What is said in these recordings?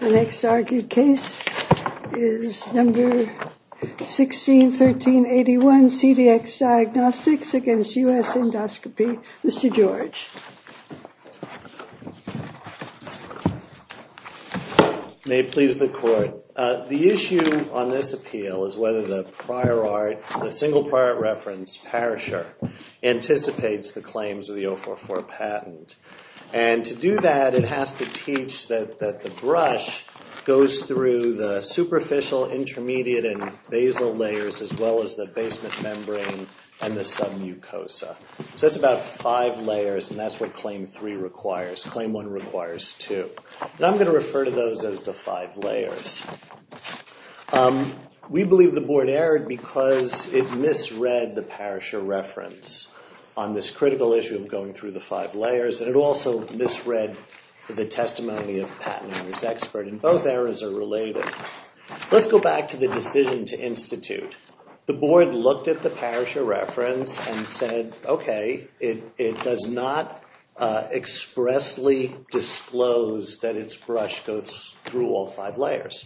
The next argued case is No. 161381, CVX Diagnostics against U.S. Endoscopy. Mr. George. May it please the Court. The issue on this appeal is whether the prior art, the single prior reference perisher, anticipates the claims of the 044 patent. And to do that, it has to teach that the brush goes through the superficial, intermediate and basal layers as well as the basement membrane and the submucosa. So that's about five layers and that's what Claim 3 requires. Claim 1 requires two. And I'm going to refer to those as the five layers. We believe the Board erred because it misread the perisher reference on this critical issue of going through the five layers and it also misread the testimony of the patent owner's expert and both errors are related. Let's go back to the decision to institute. The Board looked at the perisher reference and said, okay, it does not expressly disclose that its brush goes through all five layers.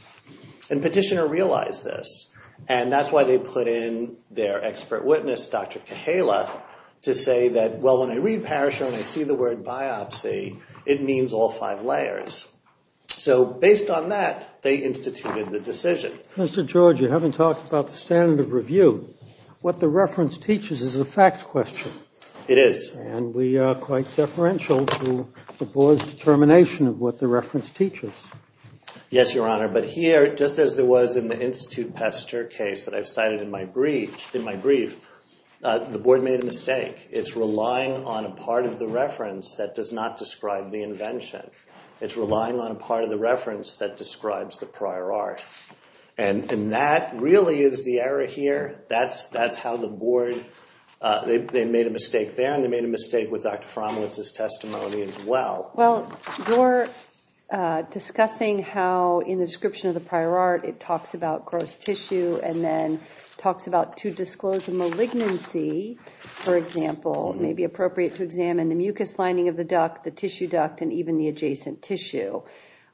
And petitioner realized this and that's why they put in their expert witness, Dr. Kahala, to say that, well, when I read perisher and I see the word biopsy, it means all five layers. So based on that, they instituted the decision. Mr. George, you haven't talked about the standard of review. What the reference teaches is a fact question. It is. And we are quite deferential to the Board's determination of what the reference teaches. Yes, Your Honor. But here, just as there was in the Institute Pester case that I've cited in my brief, the Board made a mistake. It's relying on a part of the reference that does not describe the invention. It's relying on a part of the reference that describes the prior art. And that really is the error here. That's how the Board, they made a mistake there and they made a mistake with Dr. Frommelitz's testimony as well. Well, you're discussing how in the description of the prior art, it talks about gross tissue and then talks about, to disclose a malignancy, for example, it may be appropriate to examine the mucous lining of the duct, the tissue duct, and even the adjacent tissue.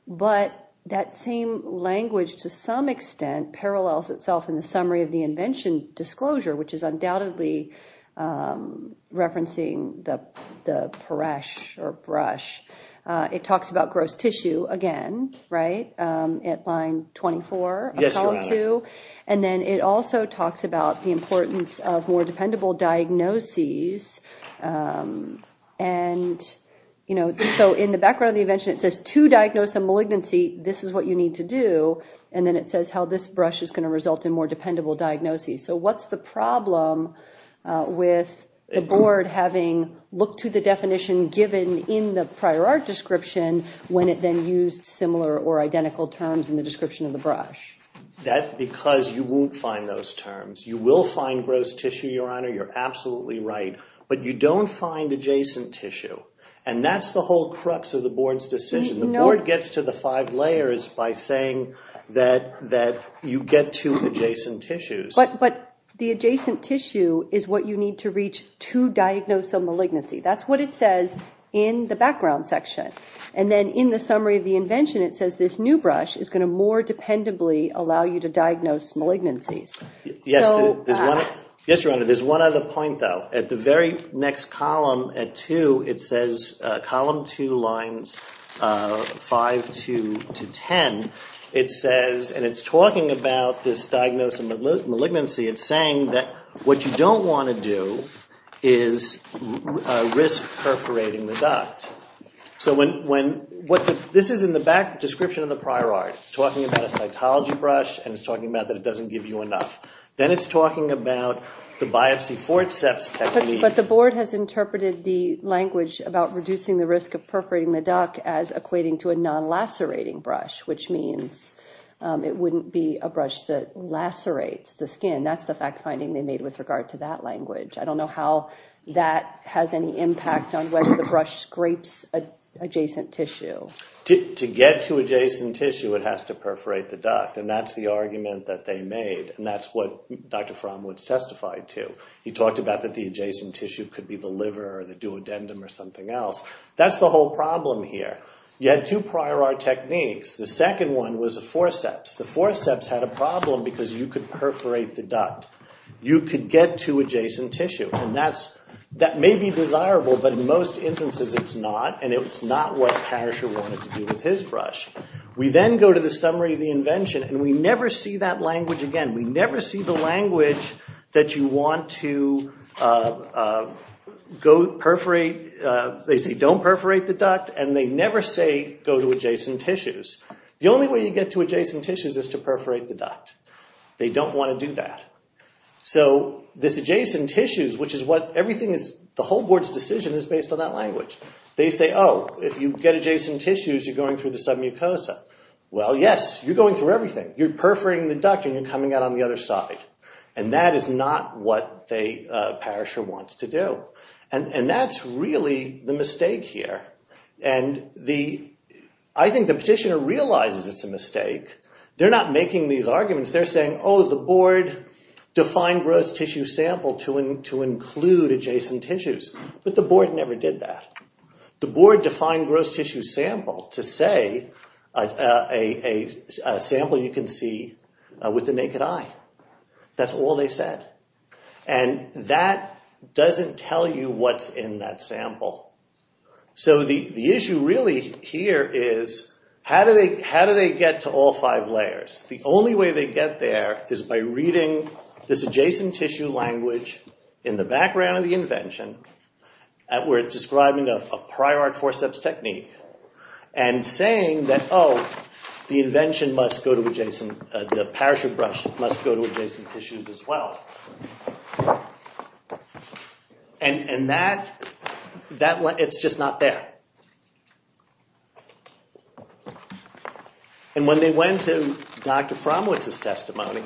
But that same language, to some extent, parallels itself in the summary of the invention disclosure, which is undoubtedly referencing the perish or brush. It talks about gross tissue again, right, at line 24 of column 2. And then it also talks about the importance of more dependable diagnoses. And, you know, so in the background of the invention, it says to diagnose a malignancy, this is what you need to do. And then it says how this brush is going to result in more dependable diagnoses. So what's the problem with the Board having looked to the definition given in the prior art description when it then used similar or identical terms in the description of the brush? That's because you won't find those terms. You will find gross tissue, Your Honor, you're absolutely right, but you don't find adjacent tissue. And that's the whole crux of the Board's decision. The Board gets to the five to reach to diagnose a malignancy. That's what it says in the background section. And then in the summary of the invention, it says this new brush is going to more dependably allow you to diagnose malignancies. Yes, Your Honor, there's one other point, though. At the very next column at 2, it says, column 2 lines 5 to 10, it says, and it's talking about this diagnosis of malignancy, it's saying that what you don't want to do is risk perforating the duct. So when, what, this is in the back description of the prior art. It's talking about a cytology brush and it's talking about that it doesn't give you enough. Then it's talking about the biopsy forceps technique. But the Board has interpreted the language about reducing the risk of perforating the duct as equating to a non-lacerating brush, which means it wouldn't be a brush that lacerates the skin. That's the fact-finding they made with regard to that language. I don't know how that has any impact on whether the brush scrapes adjacent tissue. To get to adjacent tissue, it has to perforate the duct. And that's the argument that they made. And that's what Dr. Framwoods testified to. He talked about that the adjacent tissue could be the liver or the duodendum or something else. That's the whole problem here. You had two prior art techniques. The second one was the forceps. The forceps had a problem because you could perforate the duct. You could get to adjacent tissue. And that may be desirable, but in most instances it's not. And it's not what Parrisher wanted to do with his brush. We then go to the summary of the invention, and we never see that language again. We never see the language that you want to go perforate. They say don't perforate the duct, and they never say go to adjacent tissues. The only way you get to adjacent tissues is to perforate the duct. They don't want to do that. So this adjacent tissues, which is what everything is, the whole board's decision is based on that language. They say, oh, if you get adjacent tissues, you're going through the submucosa. Well, yes, you're going through everything. You're perforating the duct, and you're coming out on the other side. And that is not what Parrisher wants to do. And that's really the mistake here. And I think the petitioner realizes it's a mistake. They're not making these arguments. They're saying, oh, the board defined gross tissue sample to include adjacent tissues, but the board never did that. The board defined gross tissue sample to say a sample you can see with the naked eye. That's all they said. And that doesn't tell you what's in that sample. So the issue really here is how do they get to all five layers? The only way they get there is by reading this adjacent tissue language in the background of the invention where it's describing a prior art forceps technique and saying that, oh, the invention must go to adjacent, the Parrisher brush must go to adjacent tissues as well. And that, it's just not there. And when they went to Dr. Frommlich's testimony,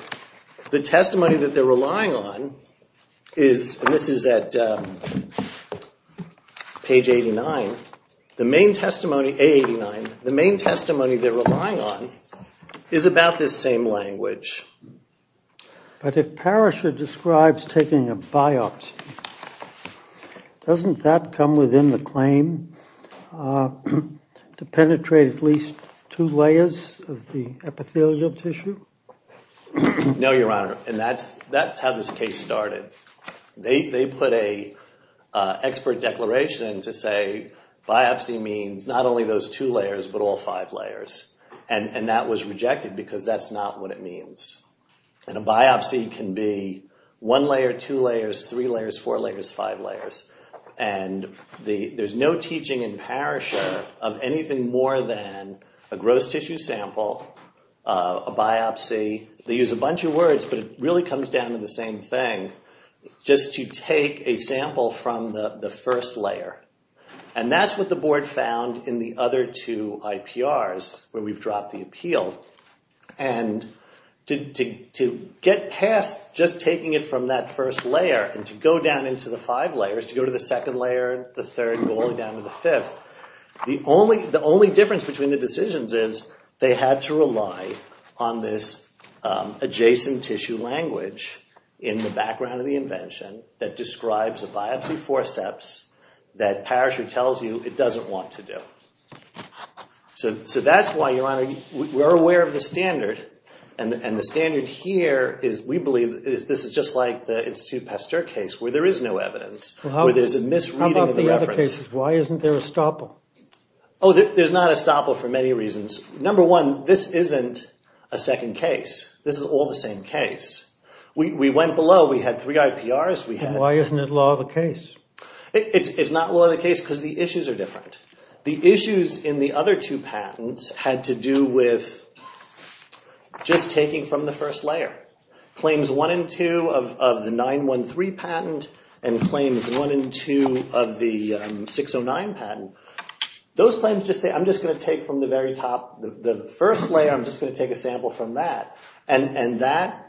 the testimony that they're relying on is, and this is at page 89, the main testimony, A89, the main testimony they're relying on is about this same language. But if Parrisher describes taking a biopsy, doesn't that come within the claim to penetrate at least two layers of the epithelial tissue? No, Your Honor. And that's how this case started. They put an expert declaration to say biopsy means not only those two layers, but all five layers. And that was rejected because that's not what it means. And a biopsy can be one layer, two layers, three layers, four layers, five layers. And there's no teaching in Parrisher of anything more than a gross tissue sample, a biopsy. They use a bunch of words, but it really comes down to the same thing, just to take a sample from the first layer. And that's what the board found in the other two IPRs where we've dropped the appeal. And to get past just taking it from that first layer and to go down into the five layers, to go to the second layer, the third, going down to the fifth, the only difference between the decisions is they had to rely on this adjacent tissue language in the background of the invention that describes a biopsy forceps that Parrisher tells you it doesn't want to do. So that's why, Your Honor, we're aware of the standard. And the standard here is we believe this is just like the Institute Pasteur case where there is no evidence, where there's a misreading of the reference. How about the other cases? Why isn't there a stopple? Oh, there's not a stopple for many reasons. Number one, this isn't a second case. This is all the same case. We went below. We had three IPRs. And why isn't it law of the case? It's not law of the case because the issues are different. The issues in the other two patents had to do with just taking from the first layer. Claims 1 and 2 of the 913 patent and claims 1 and 2 of the 609 patent, those claims just say, I'm just going to take from the very top, the first layer, I'm just going to take a sample from that. And that's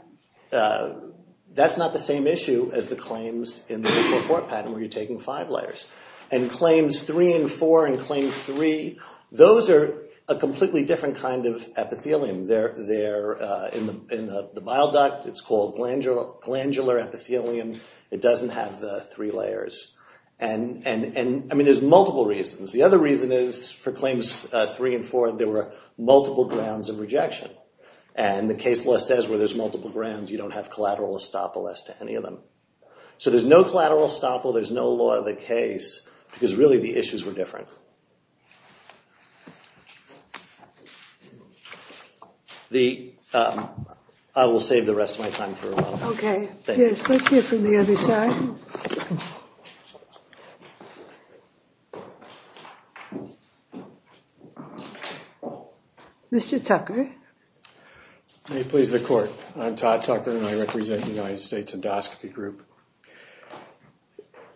not the same issue as the claims in the 504 patent where you're taking five layers. And claims 3 and 4 and claim 3, those are a completely different kind of epithelium. They're in the bile duct. It's called glandular epithelium. It doesn't have the three layers. I mean, there's multiple reasons. The other reason is for claims 3 and 4, there were multiple grounds of rejection. And the case law says where there's multiple grounds, you don't have collateral estoppel as to any of them. So there's no collateral estoppel. There's no law of the case because, really, the issues were different. I will save the rest of my time for a while. OK. Yes, let's hear from the other side. Mr. Tucker. May it please the court. I'm Todd Tucker and I represent the United States Endoscopy Group.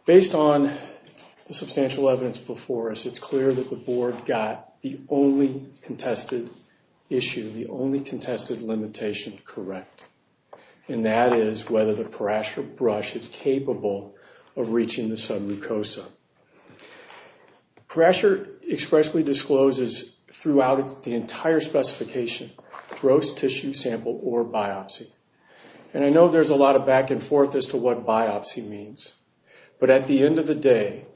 Based on the substantial evidence before us, it's clear that the board got the only contested issue, the only contested limitation correct. And that is whether the Parashar brush is capable of reaching the submucosa. Parashar expressly discloses throughout the entire specification, gross tissue sample or biopsy. And I know there's a lot of back and forth as to what biopsy means. But at the end of the day,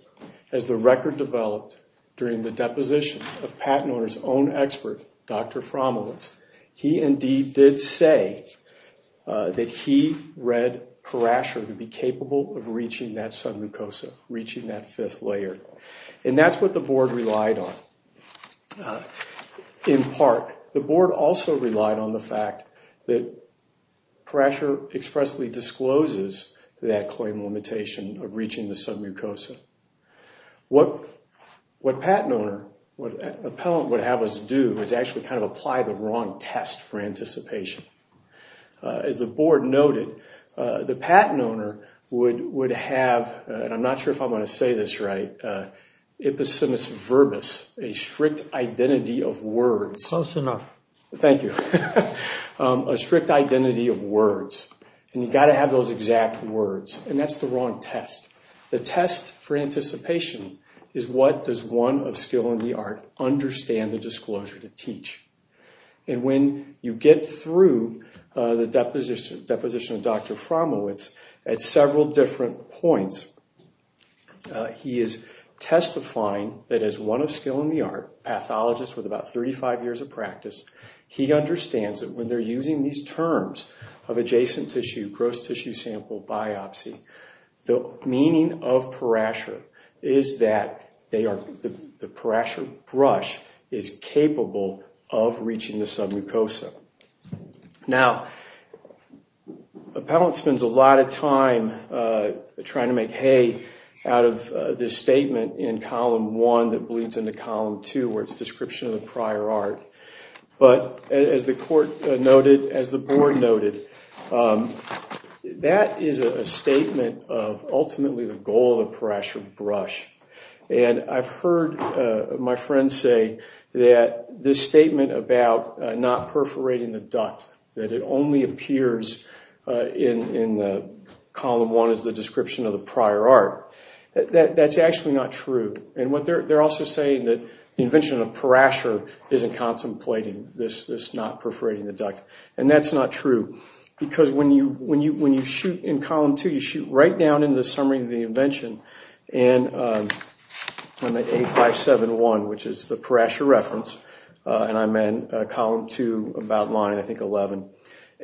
as the record developed during the deposition of patent owner's own expert, Dr. Frommelitz, he indeed did say that he read Parashar to be capable of reaching that submucosa, reaching that fifth layer. And that's what the board relied on. In part, the board also relied on the fact that Parashar expressly discloses that claim limitation of reaching the submucosa. What patent owner, what appellant would have us do is actually kind of apply the wrong test for anticipation. As the board noted, the patent owner would have, and I'm not sure if I'm going to say this right, Ipposimus Verbus, a strict identity of words. Close enough. Thank you. A strict identity of words. And you've got to have those exact words. And that's the wrong test. The test for anticipation is what does one of skill in the art understand the disclosure to teach. And when you get through the deposition of Dr. Frommelitz at several different points, he is testifying that as one of skill in the art, pathologist with about 35 years of practice, he understands that when they're using these terms of adjacent tissue, gross tissue sample, biopsy, the meaning of Parashar is that they are, the Parashar is capable of reaching the submucosa. Now, appellant spends a lot of time trying to make hay out of this statement in column one that bleeds into column two where it's description of the prior art. But as the court noted, as the board noted, that is a statement of ultimately the goal of the Parashar brush. And I've heard my friends say that this statement about not perforating the duct, that it only appears in column one as the description of the prior art. That's actually not true. And what they're also saying that the invention of Parashar isn't contemplating this not perforating the duct. And that's not true. Because when you shoot in column two, you shoot right down into the summary of the invention in A571, which is the Parashar reference. And I'm in column two about line, I think, 11.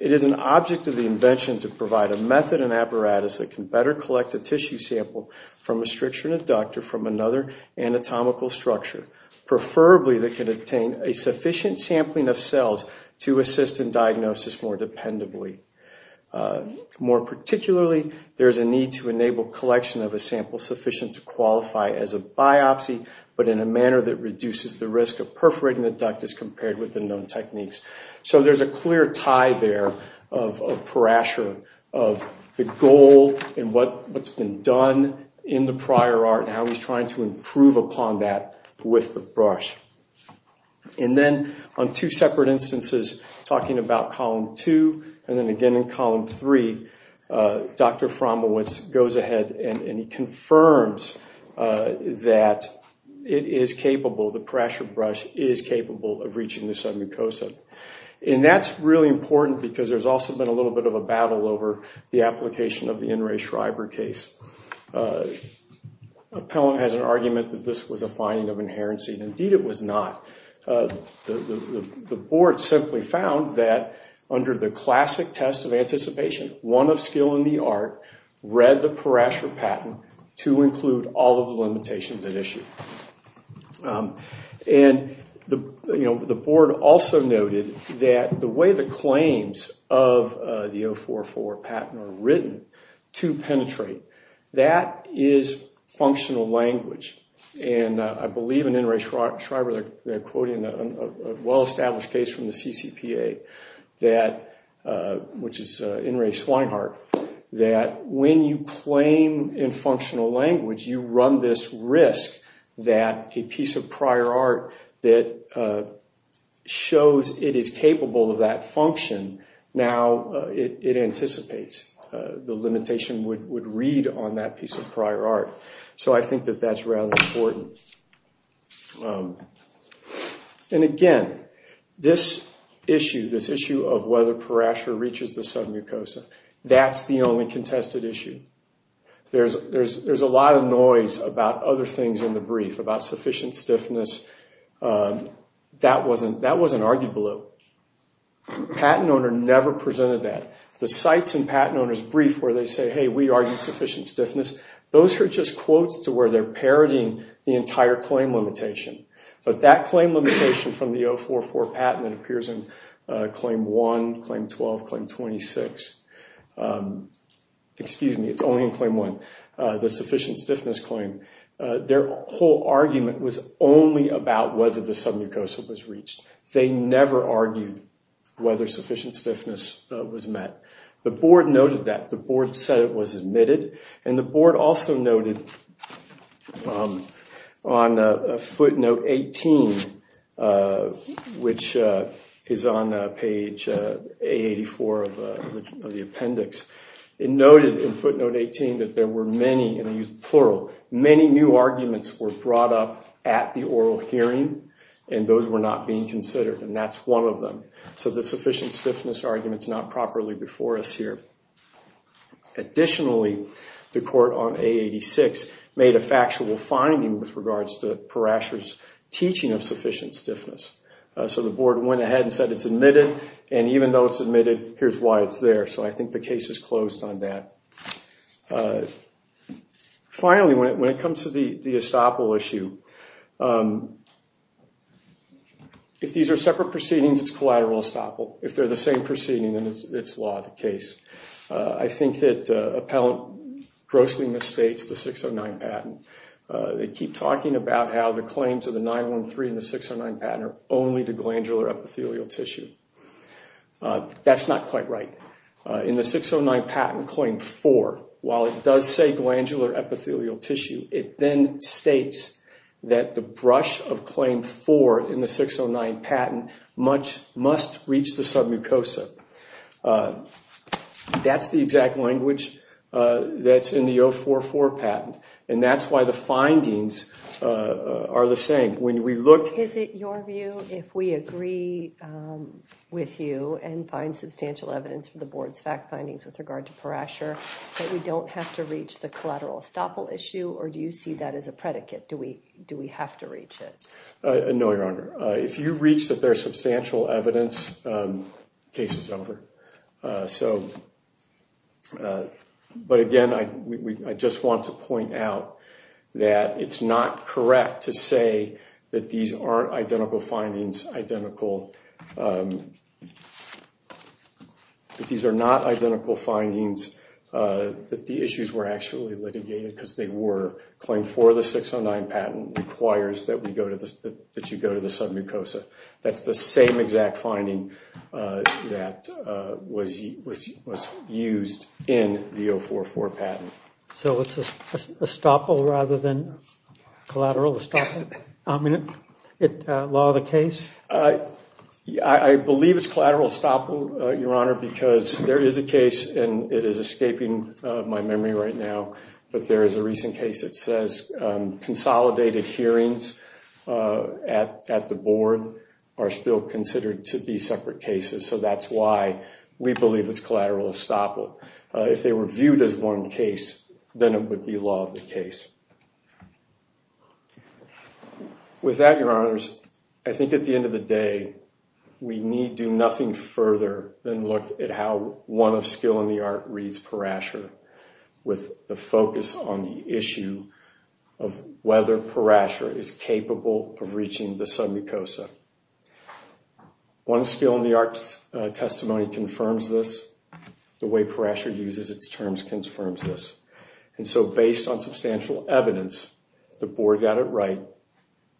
It is an object of the invention to provide a method and apparatus that can better collect a tissue sample from a stricture and a doctor from another anatomical structure, preferably that can obtain a sufficient sampling of cells to assist in diagnosis more dependably. More particularly, there's a need to enable collection of a sample sufficient to qualify as a biopsy, but in a manner that reduces the risk of perforating the duct as compared with the known techniques. So there's a clear tie there of Parashar, of the goal and what's been done in the prior art and how he's trying to improve upon that with the brush. And then on two separate instances, talking about column two, and then again in column three, Dr. Frommelwitz goes ahead and he confirms that it is capable, the Parashar brush is capable of reaching the submucosa. And that's really important because there's also been a little bit of a battle over the application of the In Re Schreiber case. Appellant has an argument that this was a finding of inherency, and indeed it was not. The board simply found that under the classic test of anticipation, one of skill in the art, read the Parashar patent to include all of the limitations at issue. And the board also noted that the way the claims of the 044 patent are written to penetrate that is functional language. And I believe in In Re Schreiber, they're quoting a well-established case from the CCPA, which is In Re Swineheart, that when you claim in functional language, you run this risk that a piece of prior art that shows it is So I think that that's rather important. And again, this issue, this issue of whether Parashar reaches the submucosa, that's the only contested issue. There's a lot of noise about other things in the brief, about sufficient stiffness, that wasn't argued below. The patent owner never presented that. The sites and patent owners' brief where they say, hey, we argued sufficient stiffness, those are just quotes to where they're parroting the entire claim limitation. But that claim limitation from the 044 patent appears in claim 1, claim 12, claim 26. Excuse me, it's only in claim 1, the sufficient stiffness claim. Their whole argument was only about whether the submucosa was reached. They never argued whether sufficient stiffness was met. The board noted that. The board said it was admitted. And the board also noted on footnote 18, which is on page A84 of the appendix, it noted in footnote 18 that there were many, and I use plural, many new arguments were brought up at the oral hearing and those were not being considered. And that's one of them. So the sufficient stiffness argument's not properly before us here. Additionally, the court on A86 made a factual finding with regards to Parashar's teaching of sufficient stiffness. So the board went ahead and said it's admitted. And even though it's admitted, here's why it's there. So I Finally, when it comes to the estoppel issue, if these are separate proceedings, it's collateral estoppel. If they're the same proceeding, then it's law of the case. I think that appellant grossly misstates the 609 patent. They keep talking about how the claims of the 913 and the 609 patent are only to glandular epithelial tissue. That's not quite right. In the 609 patent claim four, while it does say glandular epithelial tissue, it then states that the brush of claim four in the 609 patent must reach the submucosa. That's the exact language that's in the 044 patent. And that's why the findings are the same. When we look Is it your view if we agree with you and find substantial evidence for the board's fact that we don't have to reach the collateral estoppel issue, or do you see that as a predicate? Do we have to reach it? No, Your Honor. If you reach that there's substantial evidence, the case is over. But again, I just want to point out that it's not correct to say that these are not identical findings, that the issues were actually litigated because they were. Claim four of the 609 patent requires that you go to the submucosa. That's the same exact finding that was used in the 044 patent. So it's estoppel rather than collateral estoppel? I mean, law of the case? I believe it's collateral estoppel, Your Honor, because there is a case, and it is escaping my memory right now, but there is a recent case that says consolidated hearings at the board are still considered to be separate cases. So that's why we believe it's collateral estoppel. If they were viewed as one case, then it would be law of the case. With that, Your Honors, I think at the end of the day, we need do nothing further than look at how one of Skill in the Art reads Parashar with the focus on the issue of whether Parashar is capable of reaching the submucosa. One Skill in the Art testimony confirms this. The way Parashar uses its terms confirms this. And so based on substantial evidence, the board got it right,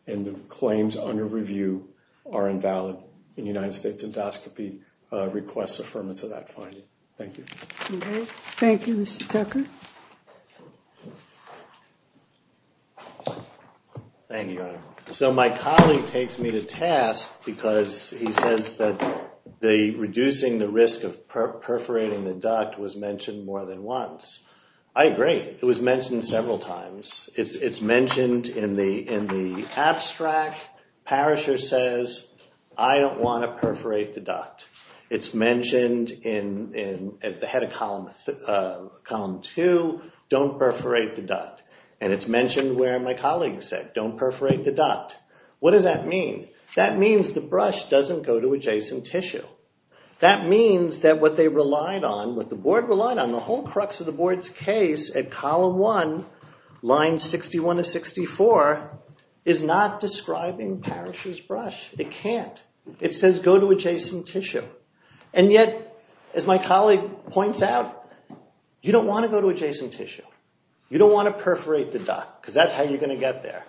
and the claims under review are invalid. And the United States Endoscopy requests affirmance of that finding. Thank you. Okay. Thank you, Mr. Tucker. Thank you, Your Honor. So my colleague takes me to task because he says that reducing the risk of perforating the duct was mentioned more than once. I agree. It was mentioned several times. It's mentioned in the abstract. Parashar says, I don't want to perforate the duct. It's mentioned at the head of column two, don't perforate the duct. And it's mentioned where my colleague said, don't perforate the duct. What does that mean? That means the brush doesn't go to adjacent tissue. That means that what they relied on, what the board relied on, the whole crux of the board's case at column one, line 61 of 64, is not describing Parashar's brush. It can't. It says go to adjacent tissue. And yet, as my colleague points out, you don't want to go to adjacent tissue. You don't want to perforate the duct because that's how you're going to get there.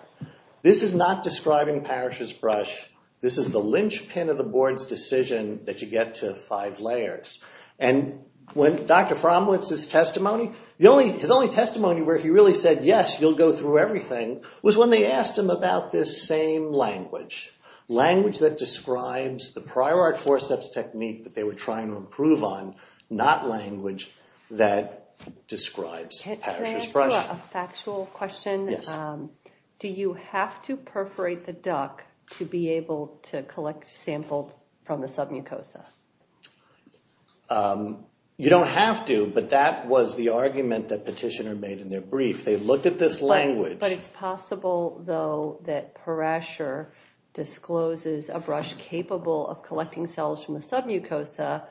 This is not describing Parashar's brush. This is the linchpin of the board's decision that you get to five layers. And when Dr. Fromwitz's testimony, his only testimony where he really said, yes, you'll go through everything, was when they asked him about this same language, language that describes the prior art forceps technique that they were trying to improve on, not language that describes Parashar's brush. I have a factual question. Do you have to perforate the duct to be able to collect samples from the submucosa? You don't have to, but that was the argument that Petitioner made in their brief. They looked at this language. But it's possible, though, that Parashar discloses a brush capable of collecting cells from the submucosa,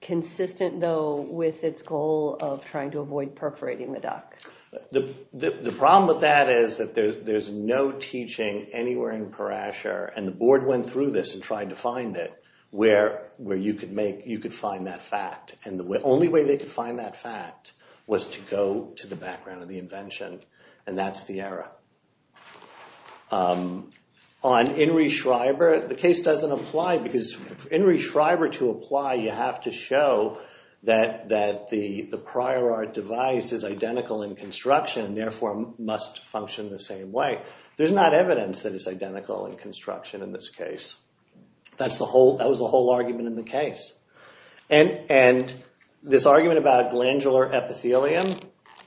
consistent, though, with its goal of trying to avoid perforating the duct. The problem with that is that there's no teaching anywhere in Parashar, and the board went through this and tried to find it, where you could find that fact. And the only way they could find that fact was to go to the background of the invention, and that's the error. On Inri Schreiber, the case doesn't apply, because for Inri Schreiber to apply, you have to show that the prior art device is identical in construction and therefore must function the same way. There's not evidence that it's identical in construction in this case. That was the whole argument in the case. And this argument about glandular epithelium,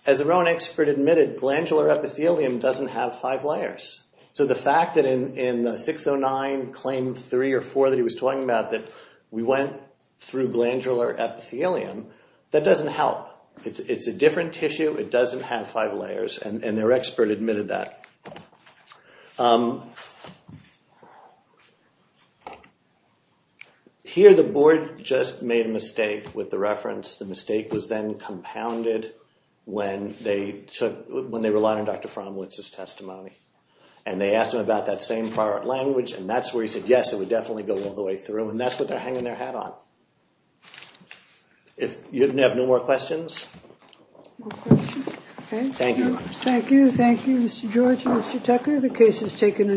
as their own expert admitted, glandular epithelium doesn't have five layers. So the fact that in 609, Claim 3 or 4 that he was talking about, that we went through glandular epithelium, that doesn't help. It's a different tissue, it doesn't have five layers, and their expert admitted that. Here the board just made a mistake with the reference. The mistake was then compounded when they relied on Dr. Frommlitz's testimony. And they asked him about that same prior art language, and that's where he said, yes, it would definitely go all the way through. And that's what they're hanging their hat on. You have no more questions? No questions. Thank you. Thank you. Thank you, Mr. George and Mr. Tucker.